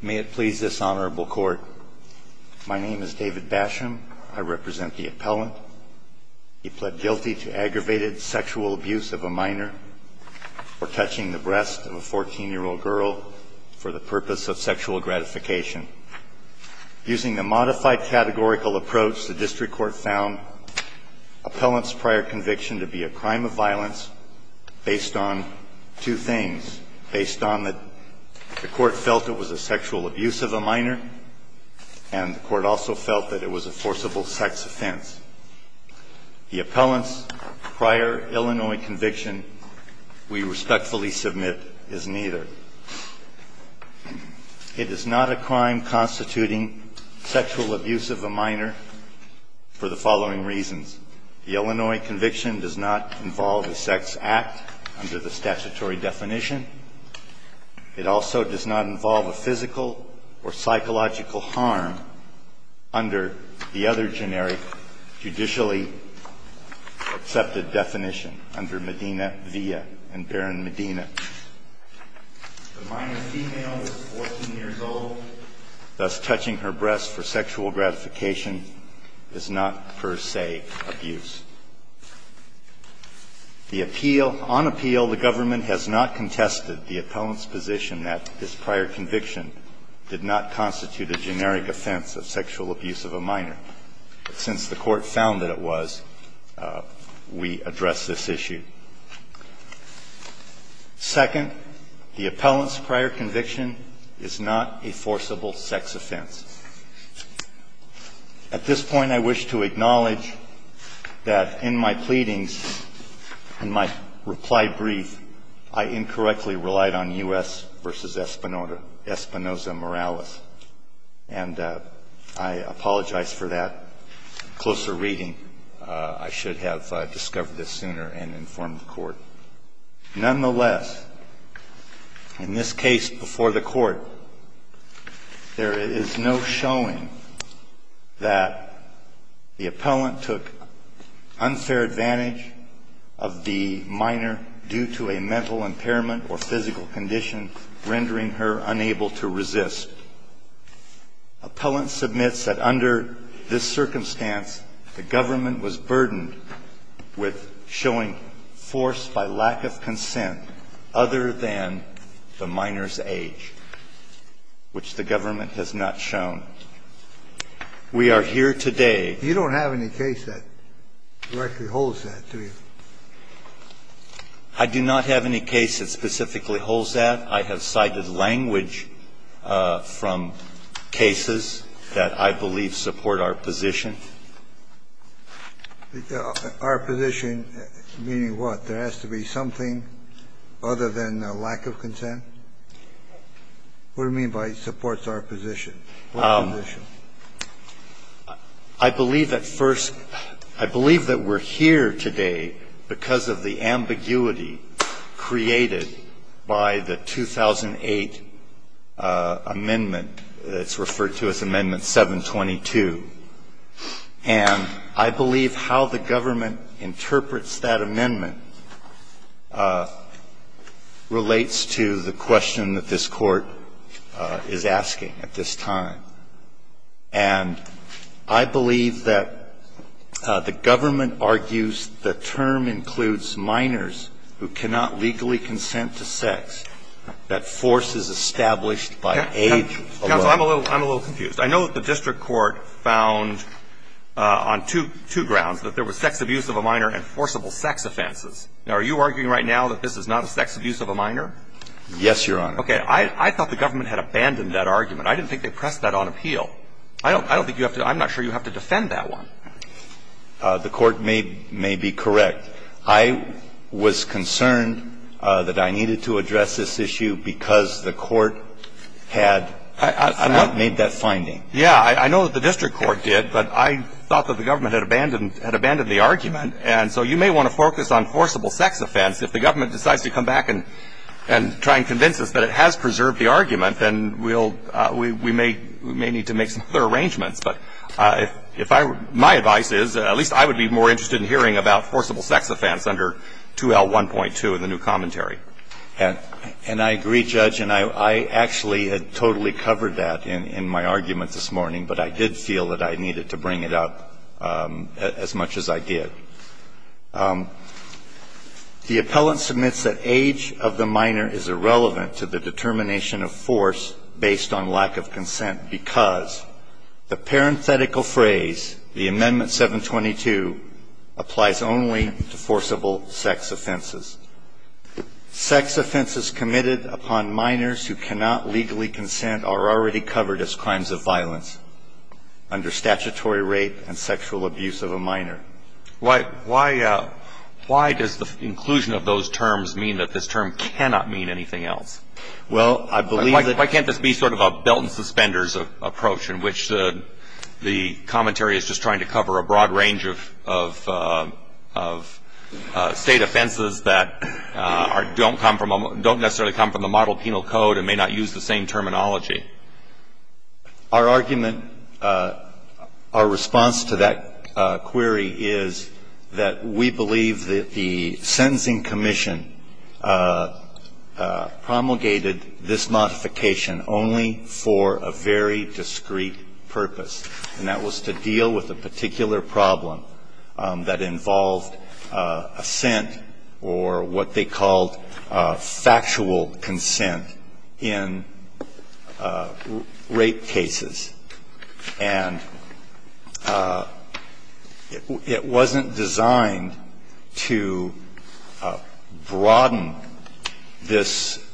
May it please this honorable court. My name is David Basham. I represent the appellant. He pled guilty to aggravated sexual abuse of a minor for touching the breast of a 14 year old girl for the purpose of sexual gratification. Using the modified categorical approach, the district court found appellant's prior conviction to be a crime of violence based on two things. Based on that the sexual abuse of a minor and the court also felt that it was a forcible sex offense. The appellant's prior Illinois conviction we respectfully submit is neither. It is not a crime constituting sexual abuse of a minor for the following reasons. The Illinois conviction does not involve a sex act under the or psychological harm under the other generic judicially accepted definition under Medina via and Barron Medina. The minor female was 14 years old, thus touching her breast for sexual gratification is not per se abuse. The appeal, on appeal the government has not contested the appellant's position that this prior conviction did not constitute a generic offense of sexual abuse of a minor. Since the court found that it was, we address this issue. Second, the appellant's prior conviction is not a forcible sex offense. At this point I wish to acknowledge that in my pleadings and my reply brief, I incorrectly relied on U.S. versus Espinoza Morales. And I apologize for that. Closer reading, I should have discovered this sooner and informed the court. Nonetheless, in this case before the court, there is no unfair advantage of the minor due to a mental impairment or physical condition rendering her unable to resist. Appellant submits that under this circumstance the government was burdened with showing force by lack of consent other than the minor's age, which the government has not shown. We are here today. You don't have any case that directly holds that, do you? I do not have any case that specifically holds that. I have cited language from cases that I believe support our position. Our position meaning what? There has to be something other than lack of consent? What do you mean by supports our position? I believe that first – I believe that we're here today because of the ambiguity created by the 2008 amendment that's referred to as Amendment 722. And I believe how the government interprets that amendment relates to the question that this is not a sexual abuse of a minor, and it's not a sexual abuse of a minor, it's a sexual abuse of a minor, and it's not a sexual abuse of a minor, it's a sexual abuse of a minor. And I believe that the government argues the term includes minors who cannot legally consent to sex, that force is established by age alone. Counsel, I'm a little confused. I know that the district court found on two grounds that there was sex abuse of a minor and forcible sex offenses. Now, are you arguing right now that this is not a sex abuse of a minor? Yes, Your Honor. Okay. I thought the government had abandoned that argument. I didn't think they pressed that on appeal. I don't think you have to – I'm not sure you have to defend that one. The court may be correct. I was concerned that I needed to address this issue because the court had not made that finding. Yeah. I know that the district court did, but I thought that the government had abandoned the argument. And so you may want to focus on forcible sex offense. If the government decides to come back and try and convince us that it has preserved the argument, then we'll – we may need to make some other arrangements. But if I – my advice is at least I would be more interested in hearing about forcible sex offense under 2L1.2 in the new commentary. And I agree, Judge. And I actually had totally covered that in my argument this morning, but I did feel that I needed to bring it up as much as I did. The appellant submits that age of the minor is irrelevant to the determination of force based on lack of consent because the parenthetical phrase, the Amendment 722, applies only to forcible sex offenses. Sex offenses committed upon minors who cannot legally consent are already covered as crimes of violence under statutory rape and sexual abuse of a minor. Why – why does the inclusion of those terms mean that this term cannot mean anything else? Well, I believe that Why can't this be sort of a belt and suspenders approach in which the commentary is just trying to cover a broad range of State offenses that are – don't come from – don't necessarily come from the model penal code and may not use the same terminology? Our argument – our response to that query is that we believe that the sentencing commission promulgated this modification only for a very discreet purpose, and that was to deal with a particular problem that involved assent or what they called factual consent in rape cases. And it wasn't designed to broaden this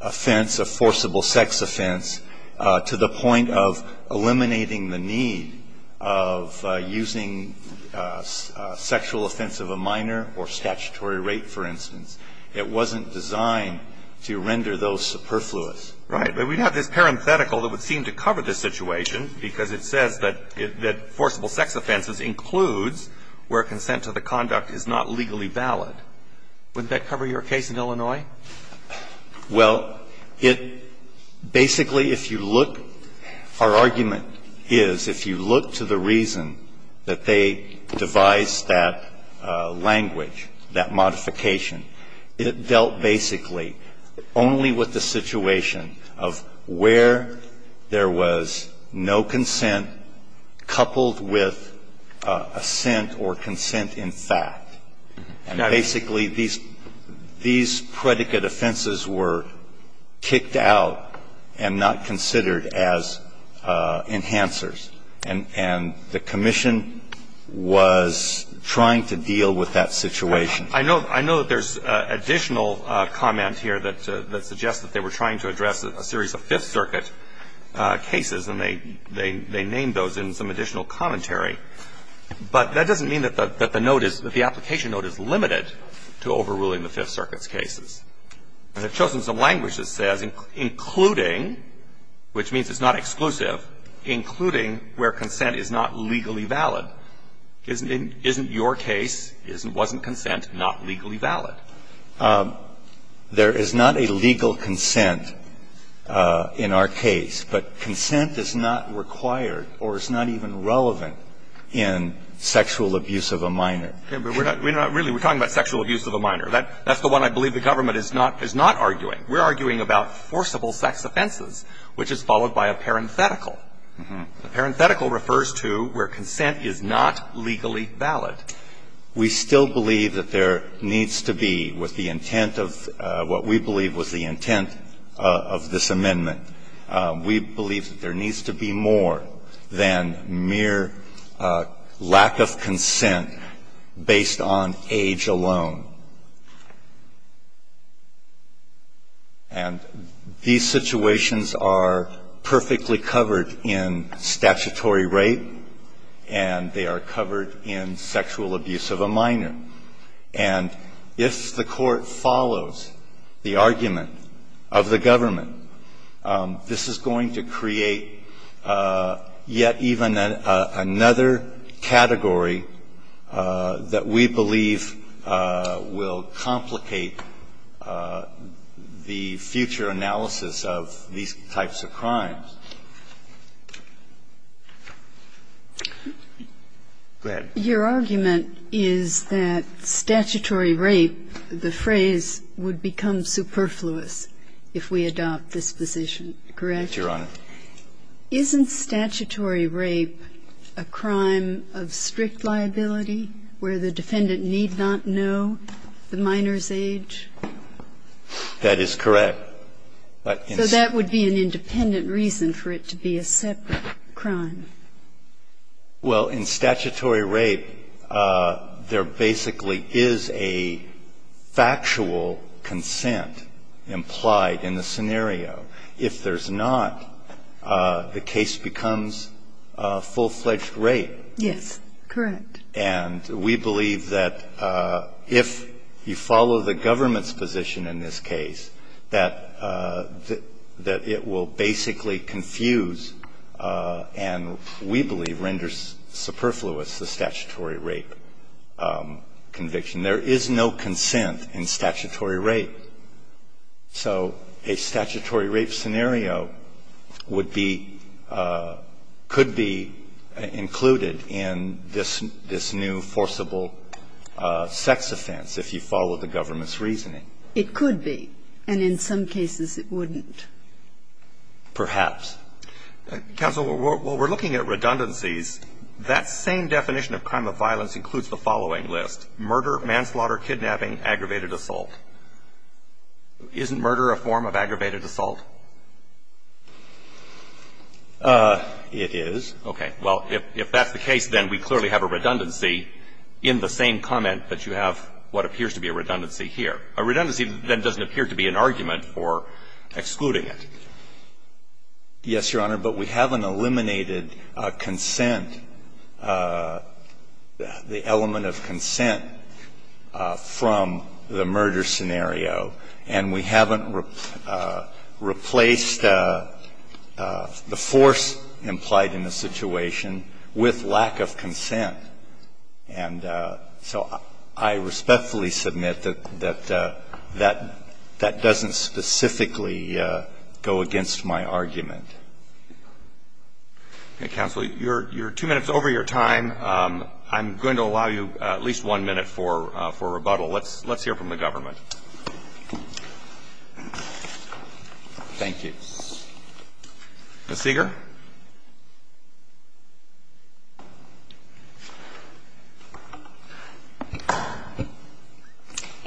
offense, a forcible sex offense, to the point of eliminating the need of using sexual offense of a minor or statutory rape, for instance. It wasn't designed to render those superfluous. Right. But we have this parenthetical that would seem to cover this situation because it says that – that forcible sex offenses includes where consent to the conduct is not legally valid. Wouldn't that cover your case in Illinois? Well, it – basically, if you look – our argument is if you look to the reason that they devised that language, that modification, it dealt basically only with the situation of where there was no consent coupled with assent or consent in fact. And basically, these predicate offenses were kicked out and not considered as enhancers. And the commission was trying to deal with that situation. I know – I know that there's additional comment here that suggests that they were trying to address a series of Fifth Circuit cases, and they named those in some additional commentary. But that doesn't mean that the note is – that the application note is limited to overruling the Fifth Circuit's cases. And they've chosen some language that says including, which means it's not exclusive, including where consent is not – isn't your case, wasn't consent, not legally valid. There is not a legal consent in our case. But consent is not required or is not even relevant in sexual abuse of a minor. Yeah, but we're not – we're not really – we're talking about sexual abuse of a minor. That's the one I believe the government is not – is not arguing. We're arguing about forcible sex offenses, which is followed by a parenthetical. Mm-hmm. The parenthetical refers to where consent is not legally valid. We still believe that there needs to be, with the intent of – what we believe was the intent of this amendment, we believe that there needs to be more than mere lack of consent based on age alone. And these situations are perfectly covered in Section 106 of the statutory rate, and they are covered in sexual abuse of a minor. And if the court follows the argument of the government, this is going to create yet even another category that we believe will complicate the future analysis of these types of crimes. Go ahead. Your argument is that statutory rape, the phrase, would become superfluous if we adopt this position, correct? Your Honor. Isn't statutory rape a crime of strict liability where the defendant need not know the minor's age? That is correct. But in – That would be an independent reason for it to be a separate crime. Well, in statutory rape, there basically is a factual consent implied in the scenario. If there's not, the case becomes full-fledged rape. Yes, correct. And we believe that if you follow the government's position in this case, that the statute that it will basically confuse and we believe renders superfluous the statutory rape conviction. There is no consent in statutory rape. So a statutory rape scenario would be – could be included in this new forcible sex offense, if you follow the government's reasoning. It could be. And in some cases, it wouldn't. Perhaps. Counsel, while we're looking at redundancies, that same definition of crime of violence includes the following list, murder, manslaughter, kidnapping, aggravated assault. Isn't murder a form of aggravated assault? It is. Okay. Well, if that's the case, then we clearly have a redundancy in the same comment that you have what appears to be a redundancy here. A redundancy, then, doesn't appear to be an argument for excluding it. Yes, Your Honor. But we haven't eliminated consent, the element of consent from the murder scenario. And we haven't replaced the force implied in the situation with lack of consent. And so I respectfully submit that that doesn't specifically go against my argument. Okay. Counsel, you're two minutes over your time. I'm going to allow you at least one minute for rebuttal. Let's hear from the government. Thank you. Ms. Seeger.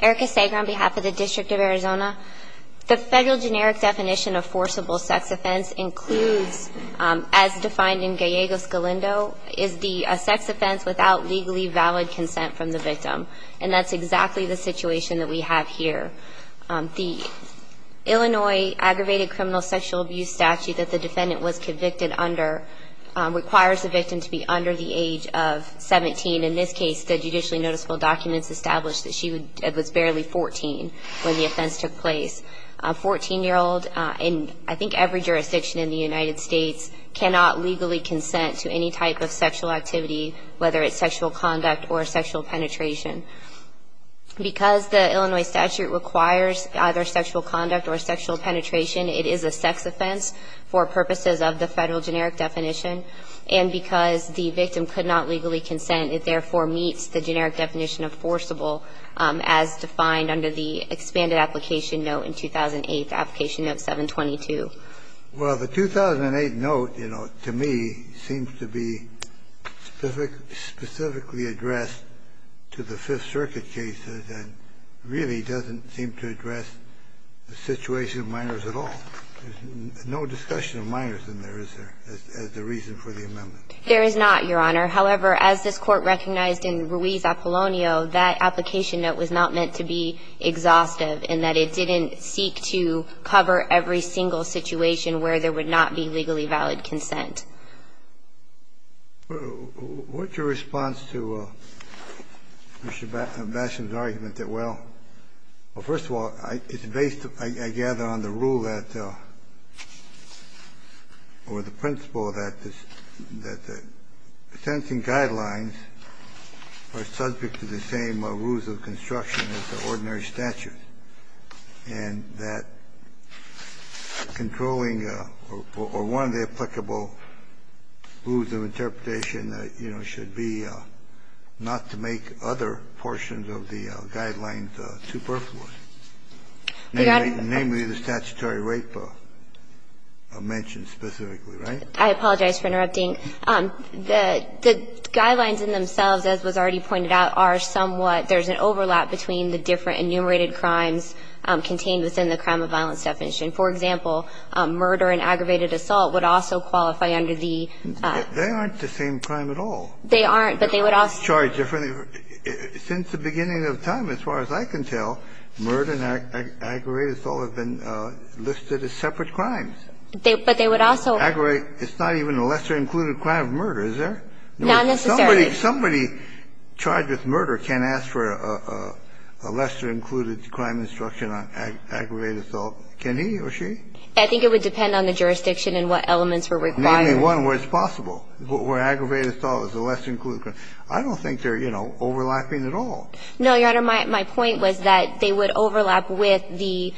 Erica Seeger on behalf of the District of Arizona. The federal generic definition of forcible sex offense includes, as defined in Gallegos Galindo, is the sex offense without legally valid consent from the victim. And that's exactly the situation that we have here. The Illinois aggravated criminal sexual abuse statute that the victim is convicted under requires the victim to be under the age of 17. In this case, the judicially noticeable documents establish that she was barely 14 when the offense took place. A 14-year-old in, I think, every jurisdiction in the United States cannot legally consent to any type of sexual activity, whether it's sexual conduct or sexual penetration. Because the Illinois statute requires either sexual conduct or sexual penetration, the federal generic definition of forcible sex offense It does not apply to this offense for purposes of the federal generic definition. And because the victim could not legally consent, it therefore meets the generic definition of forcible as defined under the expanded application note in 2008, application note 722. Well, the 2008 note, you know, to me seems to be specifically addressed to the Fifth Circuit cases and really doesn't seem to address the situation of minors at all. There's no discussion of minors in there, is there, as the reason for the amendment? There is not, Your Honor. However, as this Court recognized in Ruiz Apollonio, that application note was not meant to be exhaustive in that it didn't seek to cover every single situation where there would not be legally valid consent. What's your response to Mr. Basham's argument that, well, well, first of all, it's based, I gather, on the rule that or the principle that the sentencing guidelines are subject to the same rules of construction as the ordinary statute, and that controlling or one of the applicable rules of interpretation, you know, should be not to make other portions of the guidelines superfluous, namely the statutory rape mentioned specifically, right? I apologize for interrupting. The guidelines in themselves, as was already pointed out, are somewhat – there's an overlap between the different enumerated crimes contained within the crime of violence definition. For example, murder and aggravated assault would also qualify under the – They aren't the same crime at all. They aren't, but they would also – Since the beginning of time, as far as I can tell, murder and aggravated assault have been listed as separate crimes. But they would also – It's not even a lesser included crime of murder, is there? Not necessarily. Somebody charged with murder can't ask for a lesser included crime instruction on aggravated assault, can he or she? I think it would depend on the jurisdiction and what elements were required. Name me one where it's possible, where aggravated assault is a lesser included crime. I don't think they're, you know, overlapping at all. No, Your Honor. My point was that they would overlap with the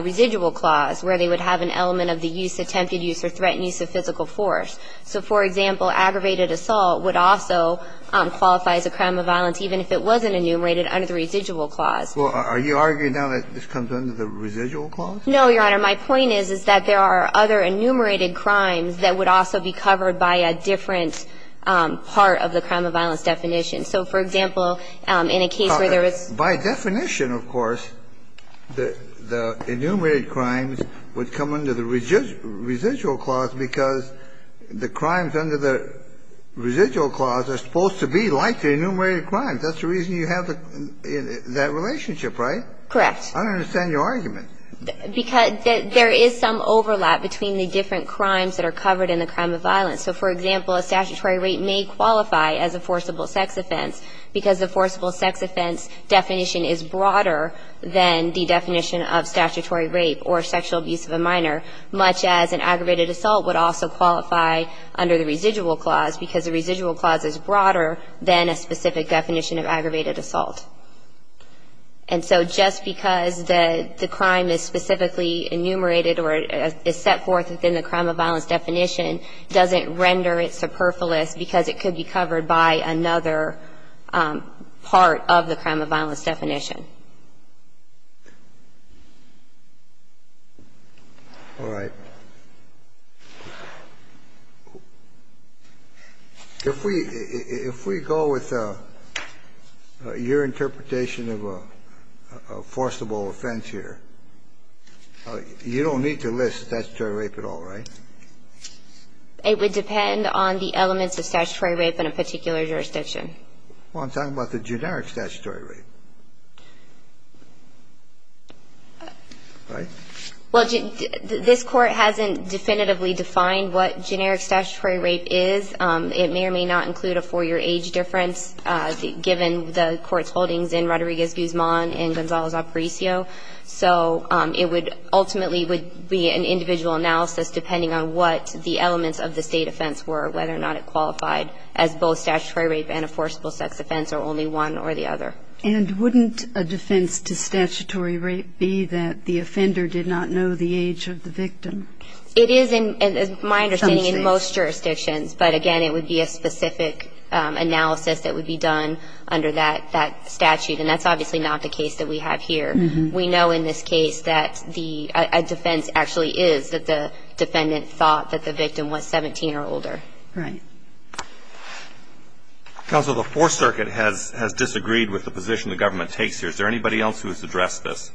residual clause, where they would have an element of the use, attempted use, or threatened use of physical force. So, for example, aggravated assault would also qualify as a crime of violence even if it wasn't enumerated under the residual clause. Well, are you arguing now that this comes under the residual clause? No, Your Honor. My point is, is that there are other enumerated crimes that would also be covered by a different part of the crime of violence definition. So, for example, in a case where there is – By definition, of course, the enumerated crimes would come under the residual clause because the crimes under the residual clause are supposed to be like the enumerated crimes. That's the reason you have that relationship, right? Correct. I don't understand your argument. Because there is some overlap between the different crimes that are covered in the crime of violence. So, for example, a statutory rape may qualify as a forcible sex offense because the forcible sex offense definition is broader than the definition of statutory rape or sexual abuse of a minor, much as an aggravated assault would also qualify under the residual clause because the residual clause is broader than a specific definition of aggravated assault. And so just because the crime is specifically enumerated or is set forth within the crime of violence definition doesn't render it superfluous because it could be covered by another part of the crime of violence definition. All right. If we go with your interpretation of a forcible offense here, you don't need to list statutory rape at all, right? It would depend on the elements of statutory rape in a particular jurisdiction. Well, I'm talking about the generic statutory rape. Right? Well, this Court hasn't definitively defined what generic statutory rape is. It may or may not include a four-year age difference, given the Court's holdings in Rodriguez-Guzman and Gonzalez-Aparicio. So it would ultimately be an individual analysis, depending on what the elements of the State offense were, whether or not it qualified as both statutory rape and a forcible sex offense, or only one or the other. And wouldn't a defense to statutory rape be that the offender did not know the age of the victim? It is, in my understanding, in most jurisdictions. But, again, it would be a specific analysis that would be done under that statute. And that's obviously not the case that we have here. We know in this case that the defense actually is that the defendant thought that the victim was 17 or older. Right. Counsel, the Fourth Circuit has disagreed with the position the government takes here. Is there anybody else who has addressed this?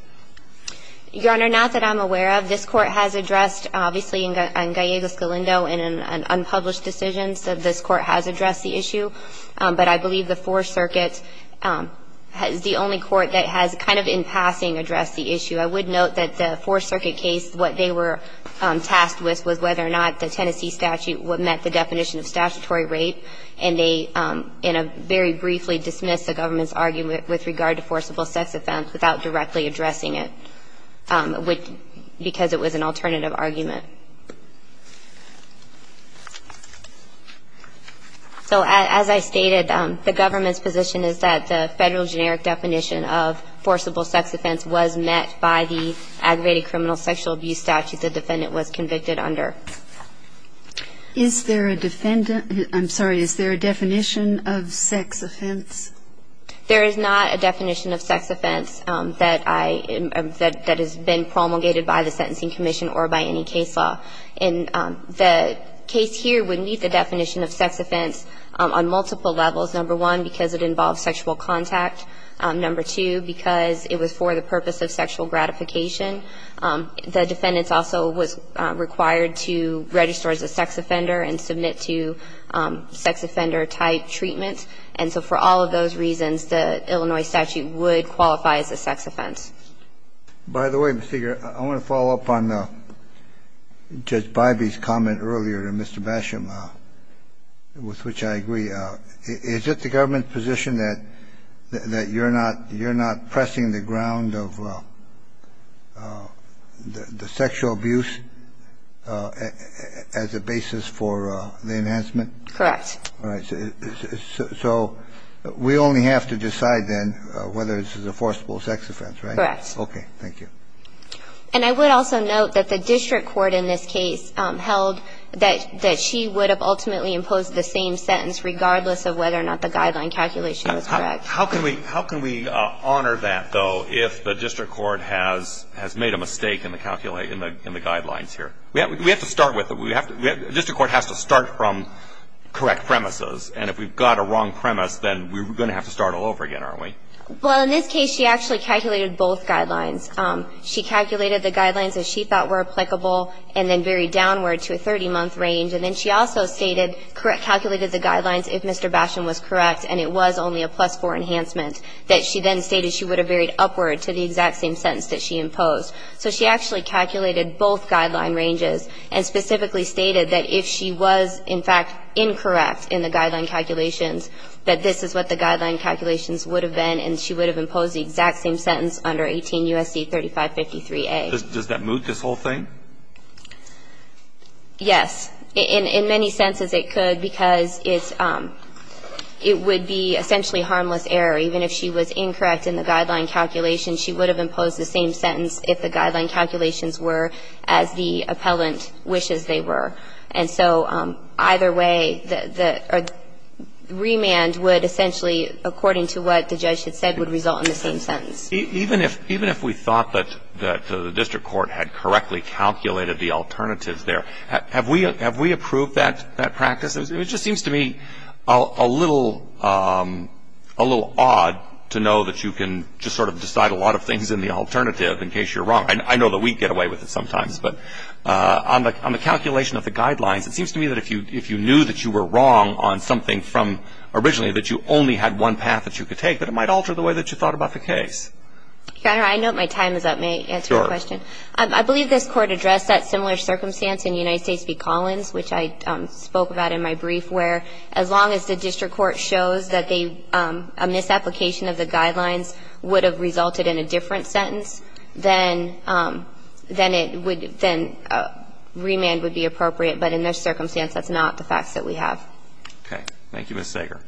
Your Honor, not that I'm aware of. This Court has addressed, obviously, in Gallegos-Calindo in an unpublished decision. So this Court has addressed the issue. But I believe the Fourth Circuit is the only Court that has kind of in passing addressed the issue. I would note that the Fourth Circuit case, what they were tasked with was whether or not the Tennessee statute met the definition of statutory rape. And they very briefly dismissed the government's argument with regard to forcible sex offense without directly addressing it, because it was an alternative argument. So as I stated, the government's position is that the federal generic definition of forcible sex offense was met by the aggravated criminal sexual abuse statute the defendant was convicted under. Is there a defendant – I'm sorry. Is there a definition of sex offense? There is not a definition of sex offense that I – that has been promulgated by the Sentencing Commission or by any case law. And the case here would meet the definition of sex offense on multiple levels, number one, because it involves sexual contact, number two, because it was for the purpose of sexual gratification. The defendant also was required to register as a sex offender and submit to sex offender type treatment. And so for all of those reasons, the Illinois statute would qualify as a sex offense. By the way, Mr. Gere, I want to follow up on Judge Bybee's comment earlier to Mr. Basham, with which I agree. Is it the government's position that you're not pressing the ground of the sexual abuse as a basis for the enhancement? Correct. All right. So we only have to decide then whether this is a forcible sex offense, right? Correct. Okay. Thank you. And I would also note that the district court in this case held that she would have ultimately imposed the same sentence regardless of whether or not the guideline calculation was correct. How can we honor that, though, if the district court has made a mistake in the guidelines here? We have to start with it. The district court has to start from correct premises. And if we've got a wrong premise, then we're going to have to start all over again, aren't we? Well, in this case, she actually calculated both guidelines. She calculated the guidelines that she thought were applicable and then varied downward to a 30-month range. And then she also stated, calculated the guidelines if Mr. Basham was correct and it was only a plus-4 enhancement, that she then stated she would have varied upward to the exact same sentence that she imposed. So she actually calculated both guideline ranges and specifically stated that if she was, in fact, incorrect in the guideline calculations, that this is what the guideline calculations were, and that she would have imposed the exact same sentence under 18 U.S.C. 3553A. Does that move this whole thing? Yes. In many senses, it could, because it's – it would be essentially harmless error. Even if she was incorrect in the guideline calculations, she would have imposed the same sentence if the guideline calculations were as the appellant wishes they were. And so either way, the remand would essentially, according to what the judge had said, would result in the same sentence. Even if we thought that the district court had correctly calculated the alternatives there, have we approved that practice? It just seems to me a little odd to know that you can just sort of decide a lot of things in the alternative in case you're wrong. I know that we get away with it sometimes, but on the calculation of the guidelines, it seems to me that if you knew that you were wrong on something from originally that you only had one path that you could take, that it might alter the way that you thought about the case. Your Honor, I note my time is up. May I answer your question? Sure. I believe this Court addressed that similar circumstance in United States v. Collins, which I spoke about in my brief, where as long as the district court shows that a misapplication of the guidelines would have resulted in a different sentence, then it would, then remand would be appropriate. But in this circumstance, that's not the facts that we have. Okay. Thank you, Ms. Sager.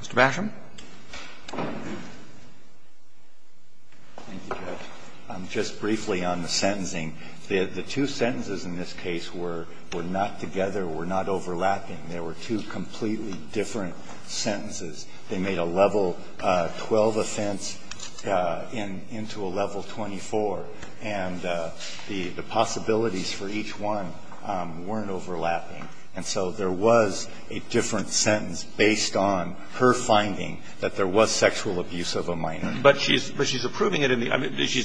Mr. Basham. Thank you, Judge. Just briefly on the sentencing. The two sentences in this case were not together, were not overlapping. They were two completely different sentences. They made a level 12 offense into a level 24. And the possibilities for each one weren't overlapping. And so there was a different sentence based on her finding that there was sexual abuse of a minor. But she's approving it in the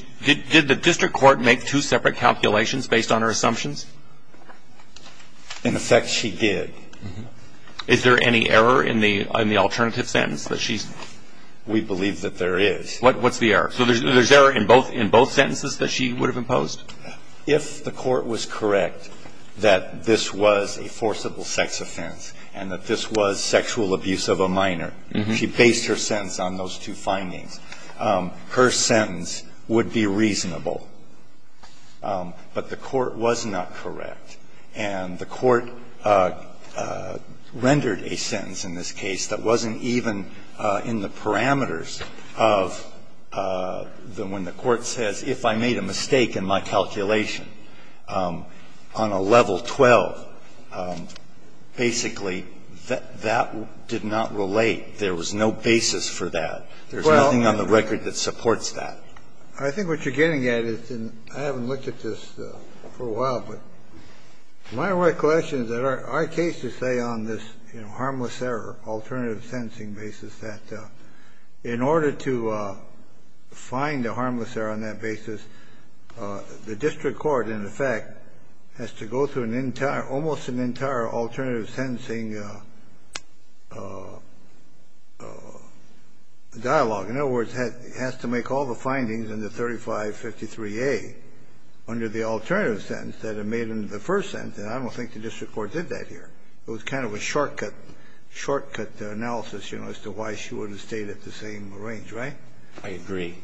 – did the district court make two separate calculations based on her assumptions? In effect, she did. Is there any error in the alternative sentence that she's – We believe that there is. What's the error? So there's error in both sentences that she would have imposed? If the court was correct that this was a forcible sex offense and that this was sexual abuse of a minor, she based her sentence on those two findings. Her sentence would be reasonable. But the court was not correct. And the court rendered a sentence in this case that wasn't even in the parameters of when the court says, if I made a mistake in my calculation on a level 12, basically, that did not relate. There was no basis for that. There's nothing on the record that supports that. I think what you're getting at is – and I haven't looked at this for a while, but my recollection is that our case is, say, on this harmless error alternative sentencing basis that in order to find a harmless error on that basis, the district court, in effect, has to go through an entire – almost an entire alternative sentencing dialogue. In other words, it has to make all the findings in the 3553A under the alternative sentence that it made in the first sentence. And I don't think the district court did that here. It was kind of a shortcut, shortcut analysis, you know, as to why she would have stayed at the same range, right? I agree.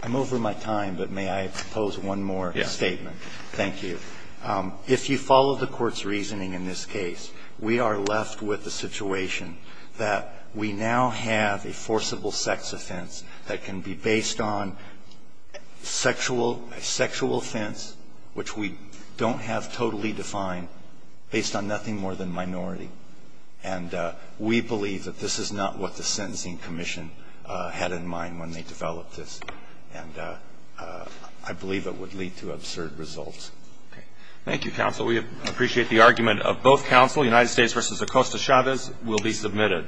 I'm over my time, but may I pose one more statement? Yes. Thank you. If you follow the court's reasoning in this case, we are left with the situation that we now have a forcible sex offense that can be based on sexual offense, which we don't have totally defined, based on nothing more than minority. And we believe that this is not what the sentencing commission had in mind when they developed this. And I believe it would lead to absurd results. Okay. Thank you, counsel. We appreciate the argument of both counsel, United States v. Acosta Chavez. This case will be submitted.